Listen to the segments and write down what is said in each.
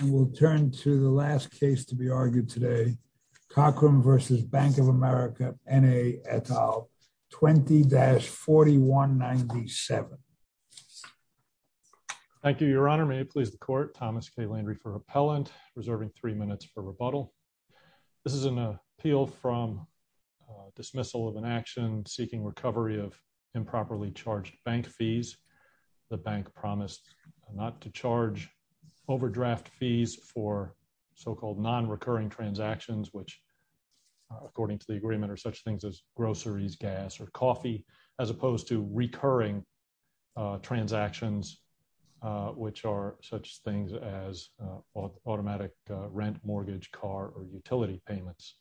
et al, 20-4197. Thank you, your honor. May it please the court, Thomas K. Landry for repellent, reserving three minutes for rebuttal. This is an appeal from dismissal of an action seeking recovery of improperly charged bank fees. The bank promised not to charge overdraft fees for so-called non-recurring transactions, which according to the agreement are such things as groceries, gas or coffee, as opposed to recurring transactions, which are such things as automatic rent, mortgage, car or utility payments.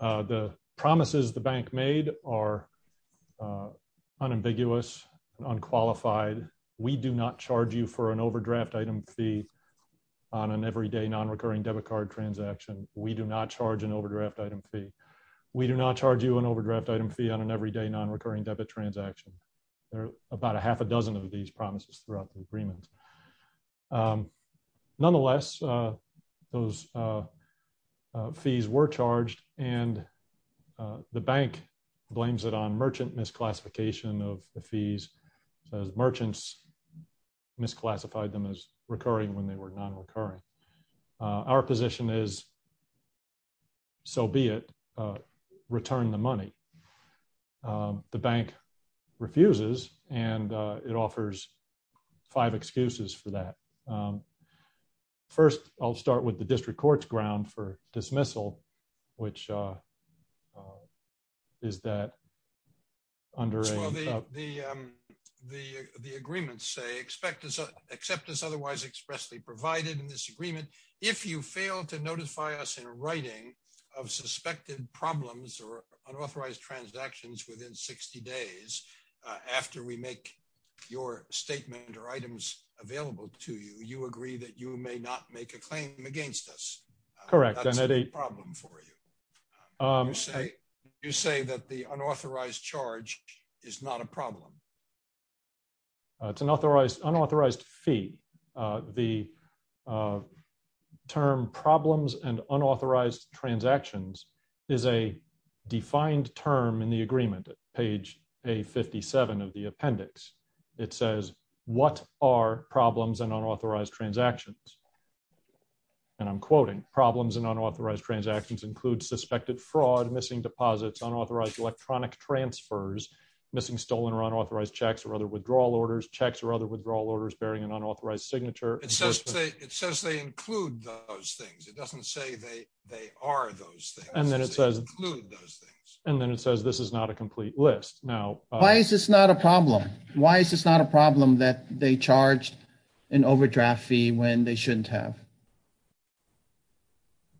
The promises the bank made are unambiguous, unqualified. We do not charge you for an overdraft item fee on an everyday non-recurring debit card transaction. We do not charge an overdraft item fee. We do not charge you an overdraft item fee on an everyday non-recurring debit transaction. There are about a half a dozen of these promises throughout the agreement. Nonetheless, those fees were charged and the bank blames it on merchant misclassification of the fees, as merchants misclassified them as recurring when they were five excuses for that. First, I'll start with the district court's ground for dismissal, which is that under the agreements say, except as otherwise expressly provided in this agreement, if you fail to notify us in writing of suspected problems or unauthorized transactions within 60 days, after we make your statement or items available to you, you agree that you may not make a claim against us. That's a problem for you. You say that the unauthorized charge is not a problem. It's an unauthorized fee. The term problems and unauthorized transactions is a defined term in the agreement, page A57 of the appendix. It says, what are problems and unauthorized transactions? And I'm quoting, problems and unauthorized transactions include suspected fraud, missing deposits, unauthorized electronic transfers, missing stolen or unauthorized checks or other withdrawal orders, checks or other withdrawal orders bearing an include those things. And then it says, this is not a complete list. Now, why is this not a problem? Why is this not a problem that they charged an overdraft fee when they shouldn't have?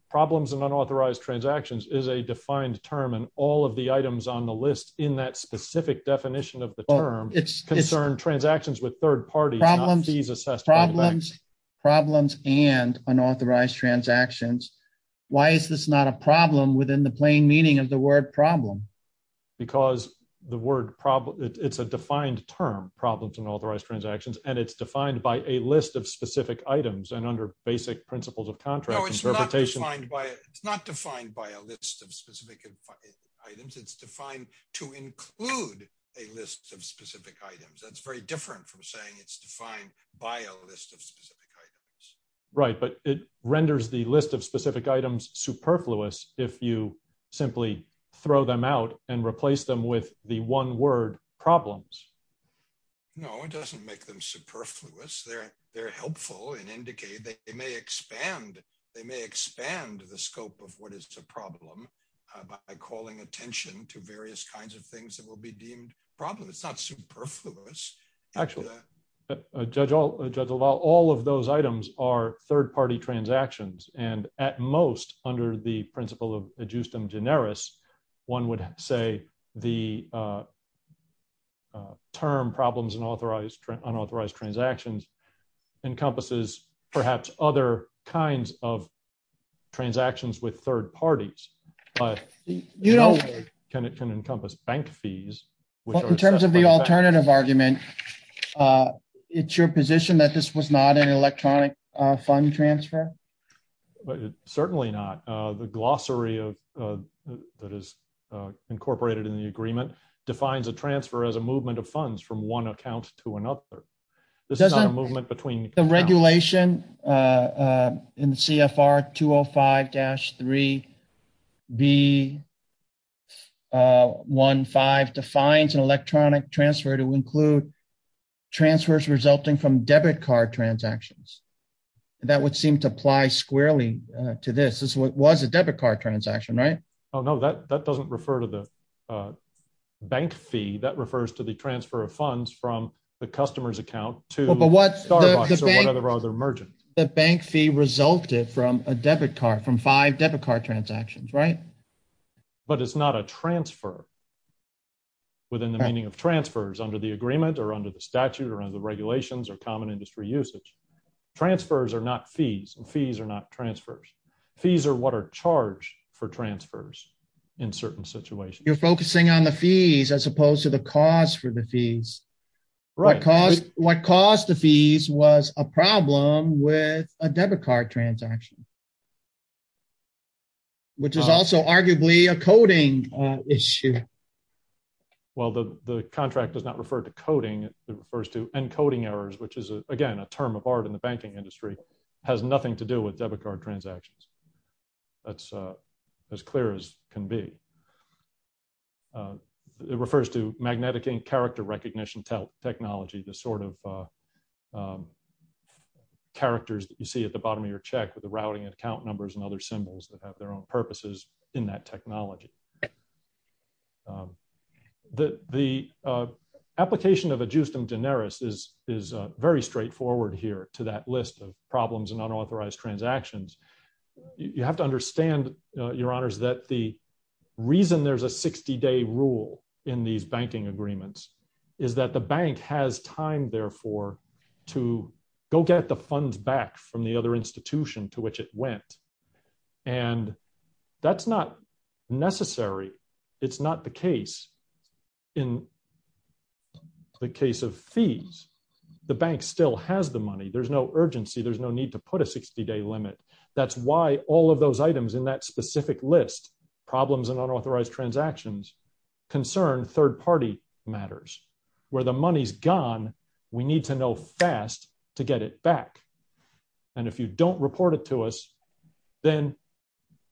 Problems and unauthorized transactions is a defined term and all of the items on the list in that specific definition of the term, it's concerned transactions with third parties, problems and unauthorized transactions. Why is this not a problem within the plain meaning of the word problem? Because the word problem, it's a defined term, problems and unauthorized transactions. And it's defined by a list of specific items and under basic principles of contract interpretation. It's not defined by a list of specific items. It's defined to include a list of specific items. That's very different from saying it's defined by a list of specific items. Right. But it renders the list of specific items superfluous if you simply throw them out and replace them with the one word problems. No, it doesn't make them superfluous. They're helpful and indicate that they may expand. They may expand the scope of what is the problem by calling attention to various kinds of things that will be deemed problems. It's not superfluous. Actually, Judge LaValle, all of those items are third-party transactions. And at most under the principle of adjustum generis, one would say the term problems and unauthorized transactions encompasses perhaps other kinds of you know, can encompass bank fees. In terms of the alternative argument, it's your position that this was not an electronic fund transfer? Certainly not. The glossary that is incorporated in the agreement defines a transfer as a movement of funds from one account to another. This is not a movement between the regulation in CFR 205-3B15 defines an electronic transfer to include transfers resulting from debit card transactions. That would seem to apply squarely to this. This was a debit card transaction, right? Oh no, that doesn't refer to the bank fee. That refers to the transfer of funds from the customer's account to Starbucks or whatever other merchant. The bank fee resulted from a debit card, from five debit card transactions, right? But it's not a transfer within the meaning of transfers under the agreement or under the statute or under the regulations or common industry usage. Transfers are not fees and fees are not transfers. Fees are what are charged for transfers in certain situations. You're focusing on the fees as opposed to the cost for the fees. What caused the fees was a problem with a debit card transaction, which is also arguably a coding issue. Well, the contract does not refer to coding. It refers to encoding errors, which is again, a term of art in the banking industry, has nothing to do with debit card transactions. That's as clear as can be. It refers to magnetic character recognition technology, the sort of characters that you see at the bottom of your check with the routing and account numbers and other symbols that have their own purposes in that technology. The application of adjustum generis is very straightforward here to that list of problems and unauthorized transactions. You have to understand, your honors, that the reason there's a 60-day rule in these banking agreements is that the bank has time, therefore, to go get the funds back from the other institution to which it went. And that's not necessary. It's not the case. In the case of fees, the bank still has the money. There's no urgency. There's no need to put a 60-day limit. That's why all of those items in that specific list, problems and unauthorized transactions, concern third-party matters. Where the money's gone, we need to know fast to get it back. And if you don't report it to us, then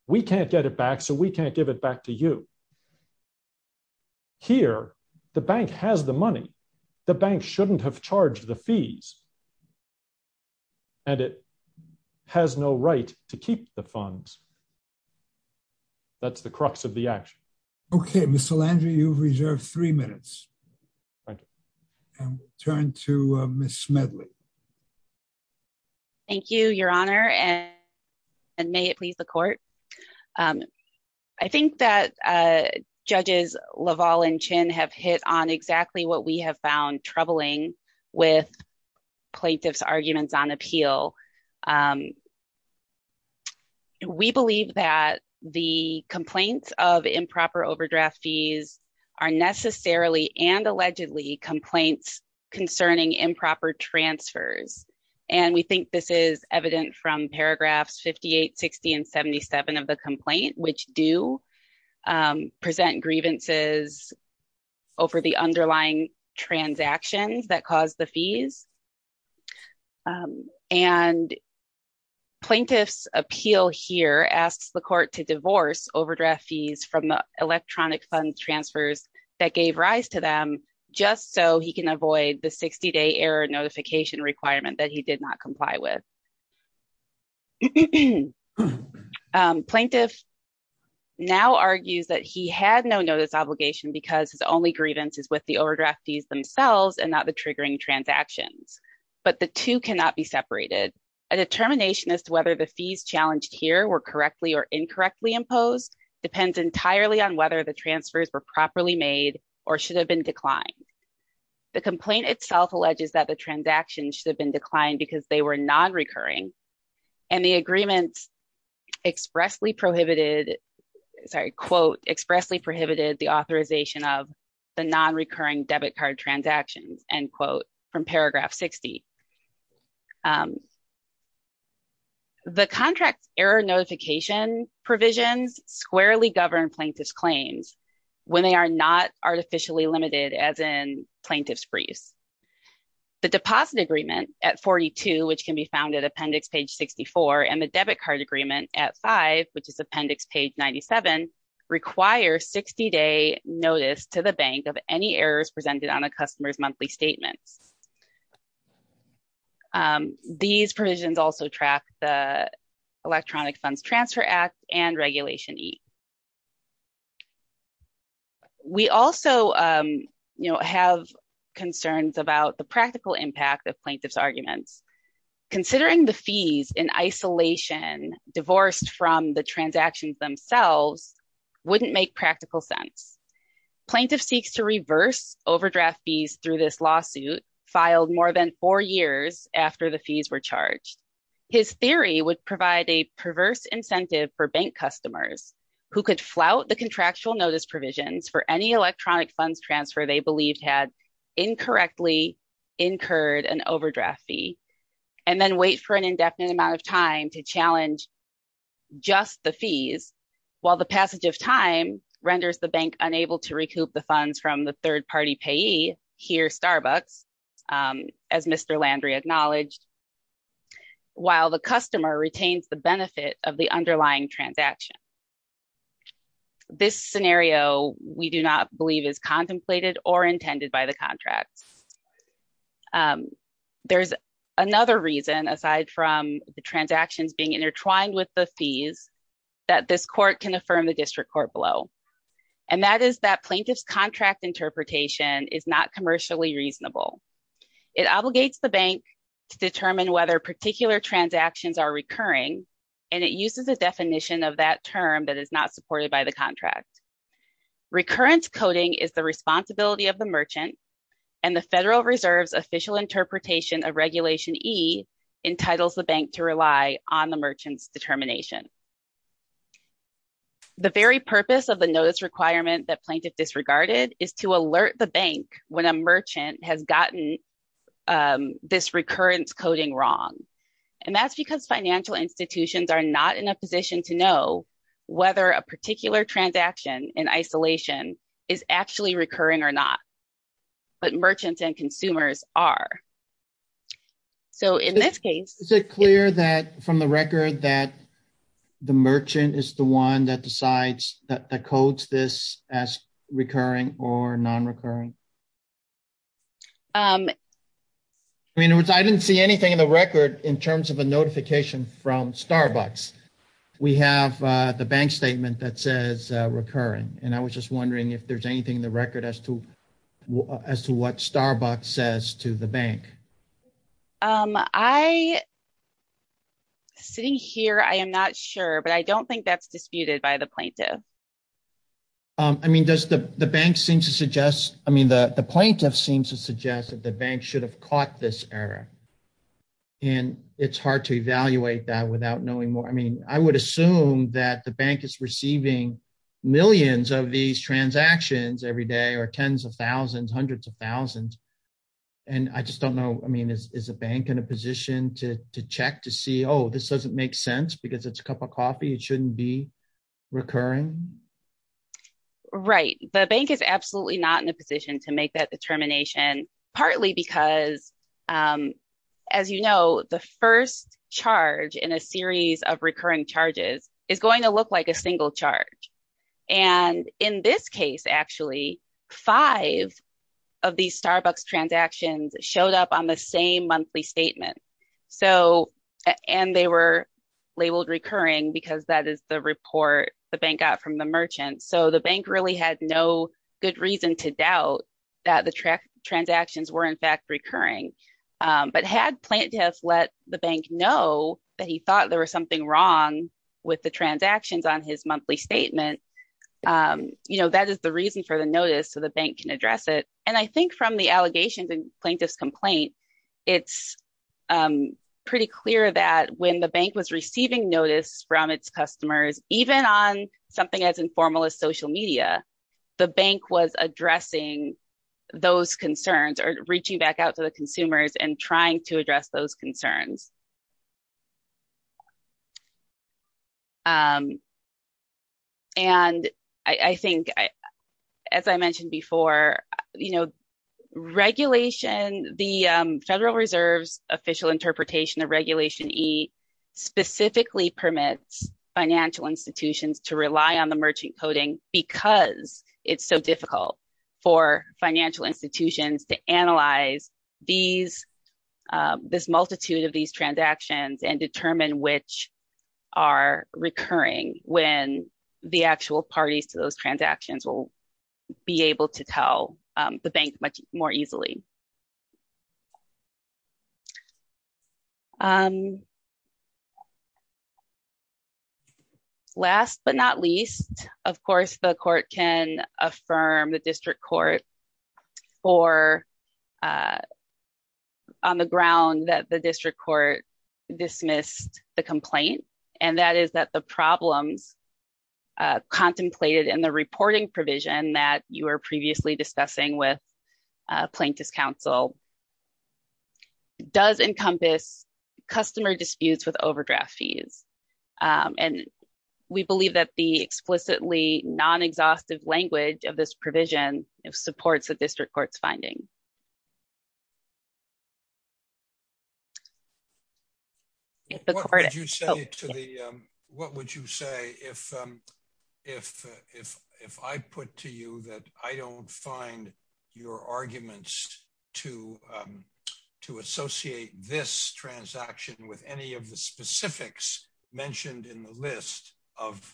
we can't get it back, so we can't give it back to you. Here, the bank has the money. The bank shouldn't have charged the fees. And it has no right to keep the funds. That's the crux of the action. Okay, Mr. Landrieu, you've reserved three minutes. And we'll turn to Ms. Smedley. Thank you, your honor, and may it please the court. I think that judges LaValle and Chin have hit on exactly what we have found troubling with plaintiff's arguments on appeal. We believe that the complaints of improper overdraft fees are necessarily and allegedly complaints concerning improper transfers. And we think this is evident from paragraphs 58, 60, and 77 of the complaint, which do present grievances over the underlying transactions that caused the fees. And plaintiff's appeal here asks the court to divorce overdraft fees from the electronic fund transfers that gave rise to them, just so he can avoid the 60-day notification requirement that he did not comply with. Plaintiff now argues that he had no notice obligation because his only grievance is with the overdraft fees themselves and not the triggering transactions. But the two cannot be separated. A determination as to whether the fees challenged here were correctly or incorrectly imposed depends entirely on whether the transfers were properly made or should have been declined. The complaint itself alleges that the transactions should have been declined because they were non-recurring. And the agreement expressly prohibited, sorry, quote, expressly prohibited the authorization of the non-recurring debit card transactions, end quote, from paragraph 60. The contract error notification provisions squarely govern plaintiff's claims when they are not artificially limited as in plaintiff's briefs. The deposit agreement at 42, which can be found at appendix page 64, and the debit card agreement at five, which is appendix page 97, require 60-day notice to the bank of any errors presented on a customer's monthly statements. These provisions also track the Electronic Funds Transfer Act and Regulation E. We also, you know, have concerns about the practical impact of plaintiff's arguments. Considering the fees in isolation divorced from the transactions themselves wouldn't make practical sense. Plaintiff seeks to reverse overdraft fees through this lawsuit filed more than four years after the fees were charged. His theory would provide a perverse incentive for bank customers who could flout the contractual notice provisions for any electronic funds transfer they believed had incorrectly incurred an overdraft fee and then wait for an indefinite amount of time to challenge just the fees, while the passage of time renders the bank unable to recoup the funds from the third-party payee, here Starbucks, as Mr. Landry acknowledged, while the customer retains the underlying transaction. This scenario we do not believe is contemplated or intended by the contract. There's another reason, aside from the transactions being intertwined with the fees, that this court can affirm the district court below, and that is that plaintiff's contract interpretation is not commercially reasonable. It obligates the bank to determine whether particular transactions are recurring, and it uses a definition of that term that is not supported by the contract. Recurrence coding is the responsibility of the merchant, and the Federal Reserve's official interpretation of Regulation E entitles the bank to rely on the merchant's determination. The very purpose of the notice requirement that plaintiff disregarded is to and that's because financial institutions are not in a position to know whether a particular transaction in isolation is actually recurring or not, but merchants and consumers are. So in this case, is it clear that from the record that the merchant is the one that decides that codes this as recurring or non-recurring? I mean, I didn't see anything in the record in terms of a notification from Starbucks. We have the bank statement that says recurring, and I was just wondering if there's anything in the record as to as to what Starbucks says to the bank. I, sitting here, I am not sure, but I don't think that's disputed by the plaintiff. I mean, does the bank seem to suggest, I mean, the plaintiff seems to suggest that the bank should have caught this error, and it's hard to evaluate that without knowing more. I mean, I would assume that the bank is receiving millions of these transactions every day, or tens of thousands, hundreds of thousands, and I just don't know, I mean, is a bank in a position to check to see, oh, this doesn't make sense because it's a cup of coffee, it shouldn't be recurring? Right. The bank is absolutely not in a position to make that determination, partly because, as you know, the first charge in a series of recurring charges is going to look like a single charge, and in this case, actually, five of these Starbucks transactions showed up on the same monthly statement, so, and they were labeled recurring because that is the report the bank got from the merchant, so the bank really had no good reason to doubt that the transactions were, in fact, recurring, but had plaintiffs let the bank know that he thought there was something wrong with the transactions on his monthly statement, you know, that is the reason for the notice so the bank can address it, and I think from the allegations in plaintiff's complaint, it's pretty clear that when the bank was receiving notice from its customers, even on something as informal as social media, the bank was addressing those concerns or reaching back out to the consumers and trying to address those concerns, and I think, as I mentioned before, you know, regulation, the Federal Reserve's official interpretation of Regulation E specifically permits financial institutions to rely on the merchant coding because it's so difficult for financial institutions to analyze this multitude of these transactions and determine which are recurring when the actual parties to those transactions will be able to tell the bank much more easily. Last but not least, of course, the court can affirm the district court for on the ground that the district court dismissed the complaint, and that is that the problems contemplated in the reporting provision that you were previously discussing with plaintiff's counsel does encompass customer disputes with overdraft fees, and we believe that the explicitly non-exhaustive language of this provision supports the district court's finding. What would you say if I put to you that I don't find your arguments to associate this transaction with any of the specifics mentioned in the list of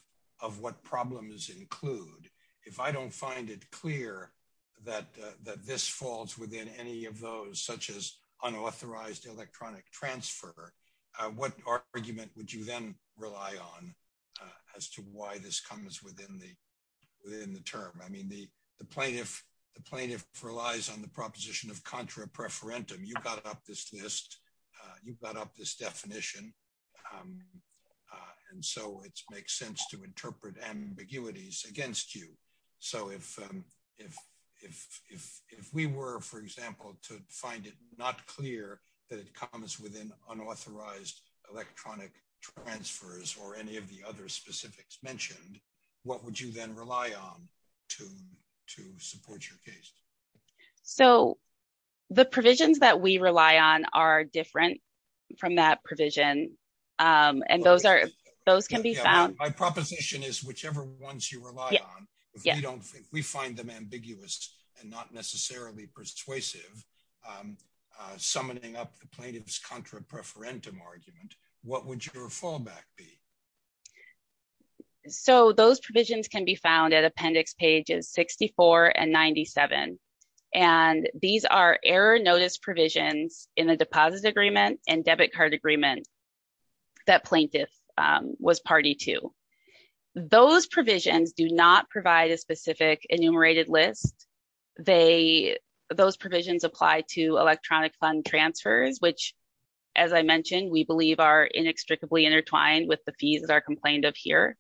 what problems include? If I don't find it clear that this falls within any of those, such as unauthorized electronic transfer, what argument would you then rely on as to why this comes within the term? I mean, the plaintiff relies on the proposition of contra preferentum. You've got up this list, you've got up this definition, and so it makes sense to interpret ambiguities against you. So, if we were, for example, to find it not clear that it comes within unauthorized electronic transfers or any of the other specifics mentioned, what would you then rely on to support your case? So, the provisions that we rely on are different from that provision, and those can be found. My proposition is whichever ones you rely on, if we find them ambiguous and not necessarily persuasive, summoning up the plaintiff's contra preferentum argument, what would your fallback be? So, those provisions can be found at appendix pages 64 and 97, and these are error notice provisions in the deposit agreement and debit card agreement that plaintiff was party to. Those provisions do not provide a specific enumerated list. Those provisions apply to electronic fund transfers, which, as I mentioned, we believe are inextricably intertwined with the fees that are complained of here,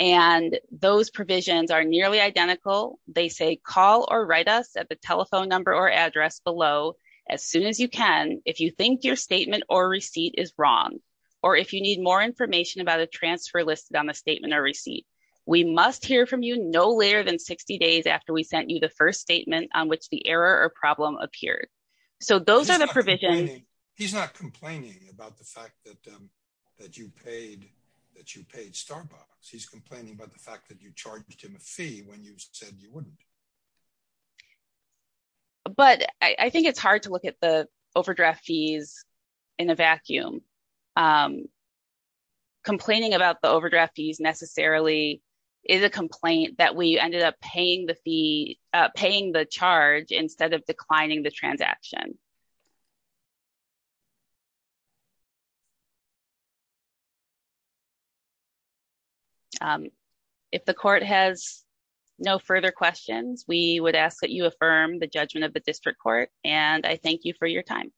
and those provisions are nearly identical. They say call or write us at the telephone number or address below as soon as you can if you think your statement or receipt is wrong or if you need more information about a transfer listed on the statement or receipt. We must hear from you no later than 60 days after we sent you the first statement on which the error or problem appeared. So, those are the provisions. He's not complaining about the fact that you paid Starbucks. He's complaining about the fact that you charged him a fee when you said you wouldn't. But I think it's hard to look at the overdraft fees in a vacuum. Complaining about the overdraft fees necessarily is a complaint that we ended up paying the fee, paying the charge instead of declining the transaction. If the court has no further questions, we would ask that you affirm the judgment of the district court, and I thank you for your time.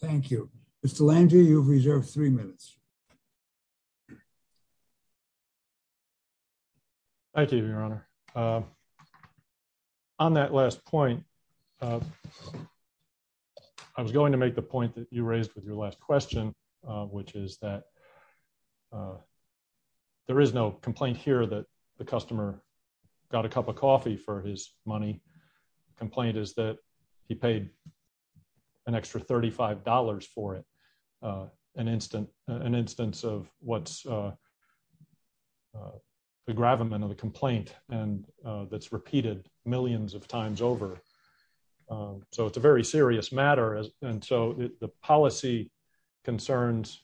Thank you. Mr. Landrieu, you've reserved three minutes. Thank you, Your Honor. On that last point, I was going to make the point that you raised with your last question, which is that there is no complaint here that the customer got a cup of coffee for his money. The complaint is that he paid an extra $35 for it, an instance of what's the gravamen of the complaint that's repeated millions of times over. So, it's a very serious matter, and so the policy concerns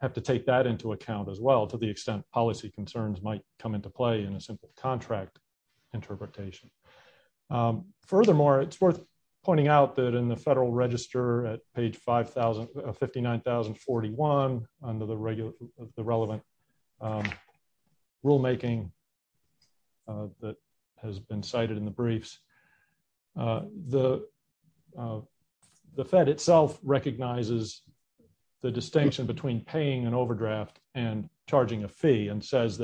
have to take that into account as well, to the extent policy concerns might come into play in a simple contract interpretation. Furthermore, it's worth pointing out that in the Federal Register at page 59,041 under the relevant rulemaking that has been cited in the briefs, the Fed itself recognizes the distinction between paying an overdraft and charging a fee and says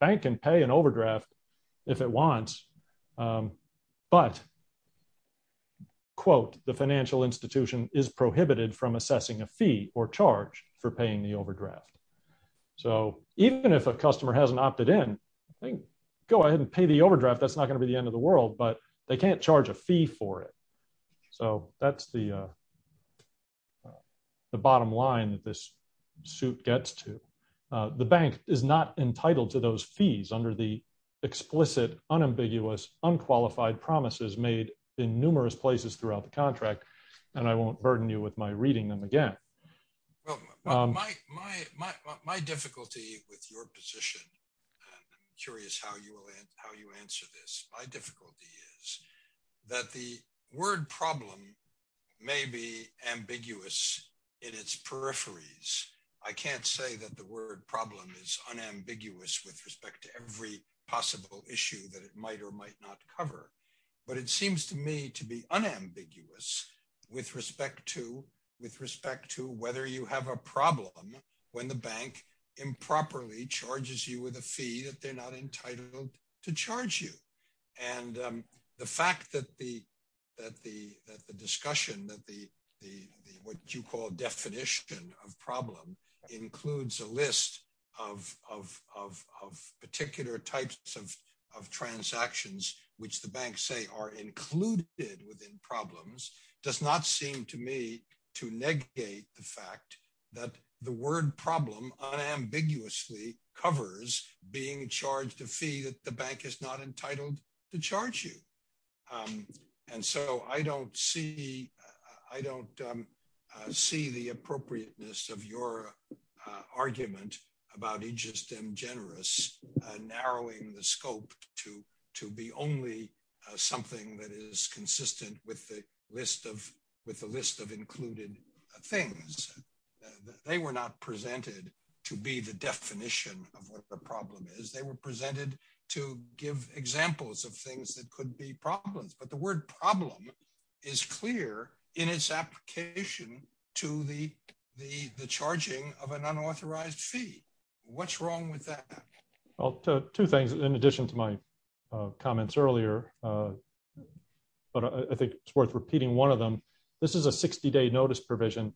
bank can pay an overdraft if it wants, but, quote, the financial institution is prohibited from assessing a fee or charge for paying the overdraft. So, even if a customer hasn't opted in, go ahead and pay the overdraft, that's not going to be the end of the world, but they can't charge a fee for it. So, that's the bottom line that this suit gets to. The bank is not entitled to those fees under the explicit, unambiguous, unqualified promises made in numerous places throughout the contract, and I won't burden you with my reading them again. My difficulty with your position, and I'm curious how you answer this, my difficulty is that the word problem may be ambiguous in its peripheries. I can't say that the word problem is unambiguous with respect to every possible issue that it might or might not cover, but it seems to me to be unambiguous with respect to whether you have a problem when the bank improperly charges you with a fee that they're not entitled to charge you. And the fact that the discussion, that the, what you call definition of problem, includes a list of particular types of transactions, which the banks say are included within problems, does not seem to me to negate the fact that the word problem unambiguously covers being charged a fee that the bank is not entitled to charge you. And so, I don't see, I don't see the appropriateness of your argument about Aegis Dem Generis narrowing the scope to be only something that is consistent with the list of included things. They were not presented to be the definition of what the problem is. They were presented to give examples of things that could be problems, but the word problem is clear in its application to the charging of an unauthorized fee. What's wrong with that? Well, two things in addition to my comments earlier, but I think it's worth repeating one of them. This is a 60-day notice provision.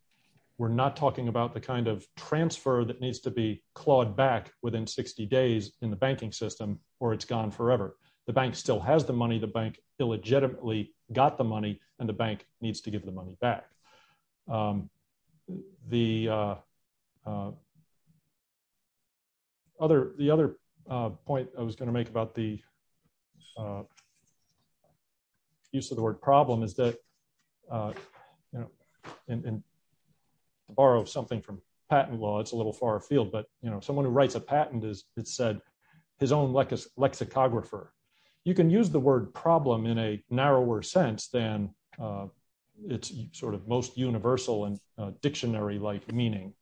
We're not talking about the kind of transfer that needs to be clawed back within 60 days in the banking system or it's gone forever. The bank still has the money. The bank illegitimately got the money and the bank needs to give the money back. The other point I was going to make about the use of the word problem is that, borrow something from patent law, it's a little far afield, but someone who writes a patent has said his own lexicographer. You can use the word problem in a narrower sense than its sort of most universal and dictionary-like meaning.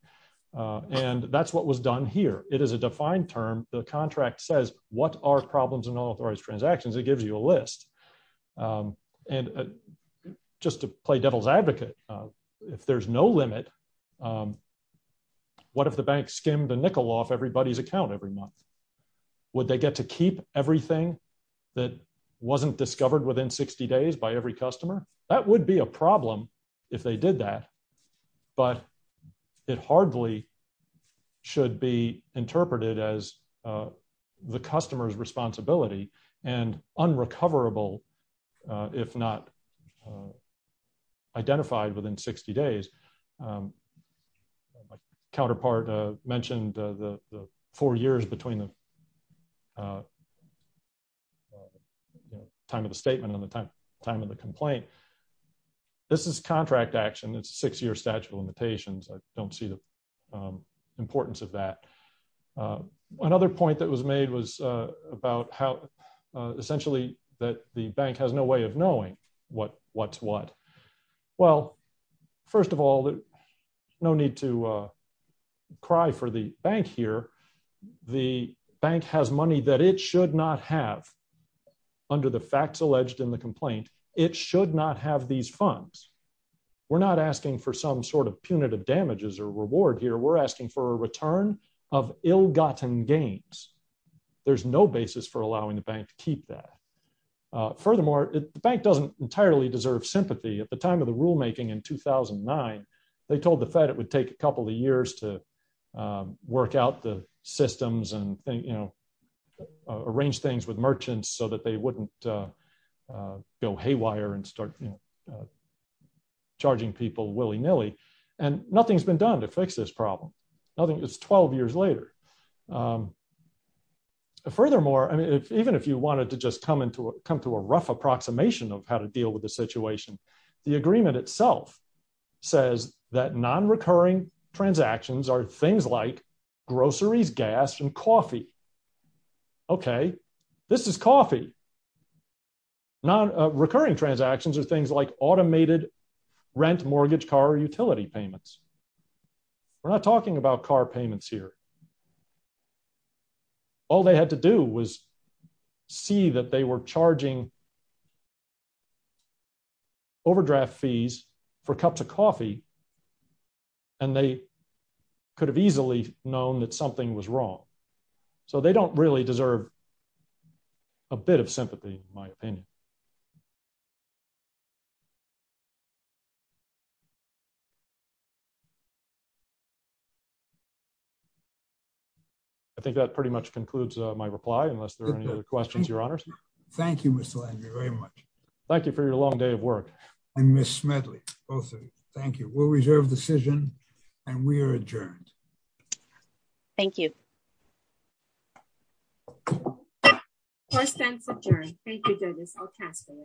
And that's what was done here. It is a defined term. The contract says, what are problems in unauthorized transactions? It gives you a list. And just to play devil's advocate, if there's no limit, what if the bank skimmed the nickel off everybody's account every month? Would they get to keep everything that wasn't discovered within 60 days by every customer? That would be a problem if they did that, but it hardly should be interpreted as the customer's responsibility and unrecoverable if not identified within 60 days. My counterpart mentioned the four years between the time of the statement and the time of the complaint. This is contract action. It's a very important part of that. Another point that was made was essentially that the bank has no way of knowing what's what. Well, first of all, no need to cry for the bank here. The bank has money that it should not have under the facts alleged in the complaint. It should not have these funds. We're not asking for some punitive damages or reward here. We're asking for a return of ill-gotten gains. There's no basis for allowing the bank to keep that. Furthermore, the bank doesn't entirely deserve sympathy. At the time of the rulemaking in 2009, they told the Fed it would take a couple of years to work out the systems and arrange things with charging people willy-nilly. Nothing's been done to fix this problem. It's 12 years later. Furthermore, even if you wanted to just come to a rough approximation of how to deal with the situation, the agreement itself says that non-recurring transactions are things like groceries, gas, and coffee. Okay, this is coffee. Non-recurring transactions are things like rent, mortgage, car, or utility payments. We're not talking about car payments here. All they had to do was see that they were charging overdraft fees for cups of coffee, and they could have easily known that something was wrong. They don't really deserve a bit of sympathy, in my opinion. I think that pretty much concludes my reply, unless there are any other questions, Your Honors. Thank you, Mr. Landrieu, very much. Thank you for your long day of work. And Ms. Smedley, both of you. Thank you. We'll reserve decision, and we are adjourned. Thank you. First and second. Thank you, Douglas. I'll pass for now. Thank you. Thank you. Thank you.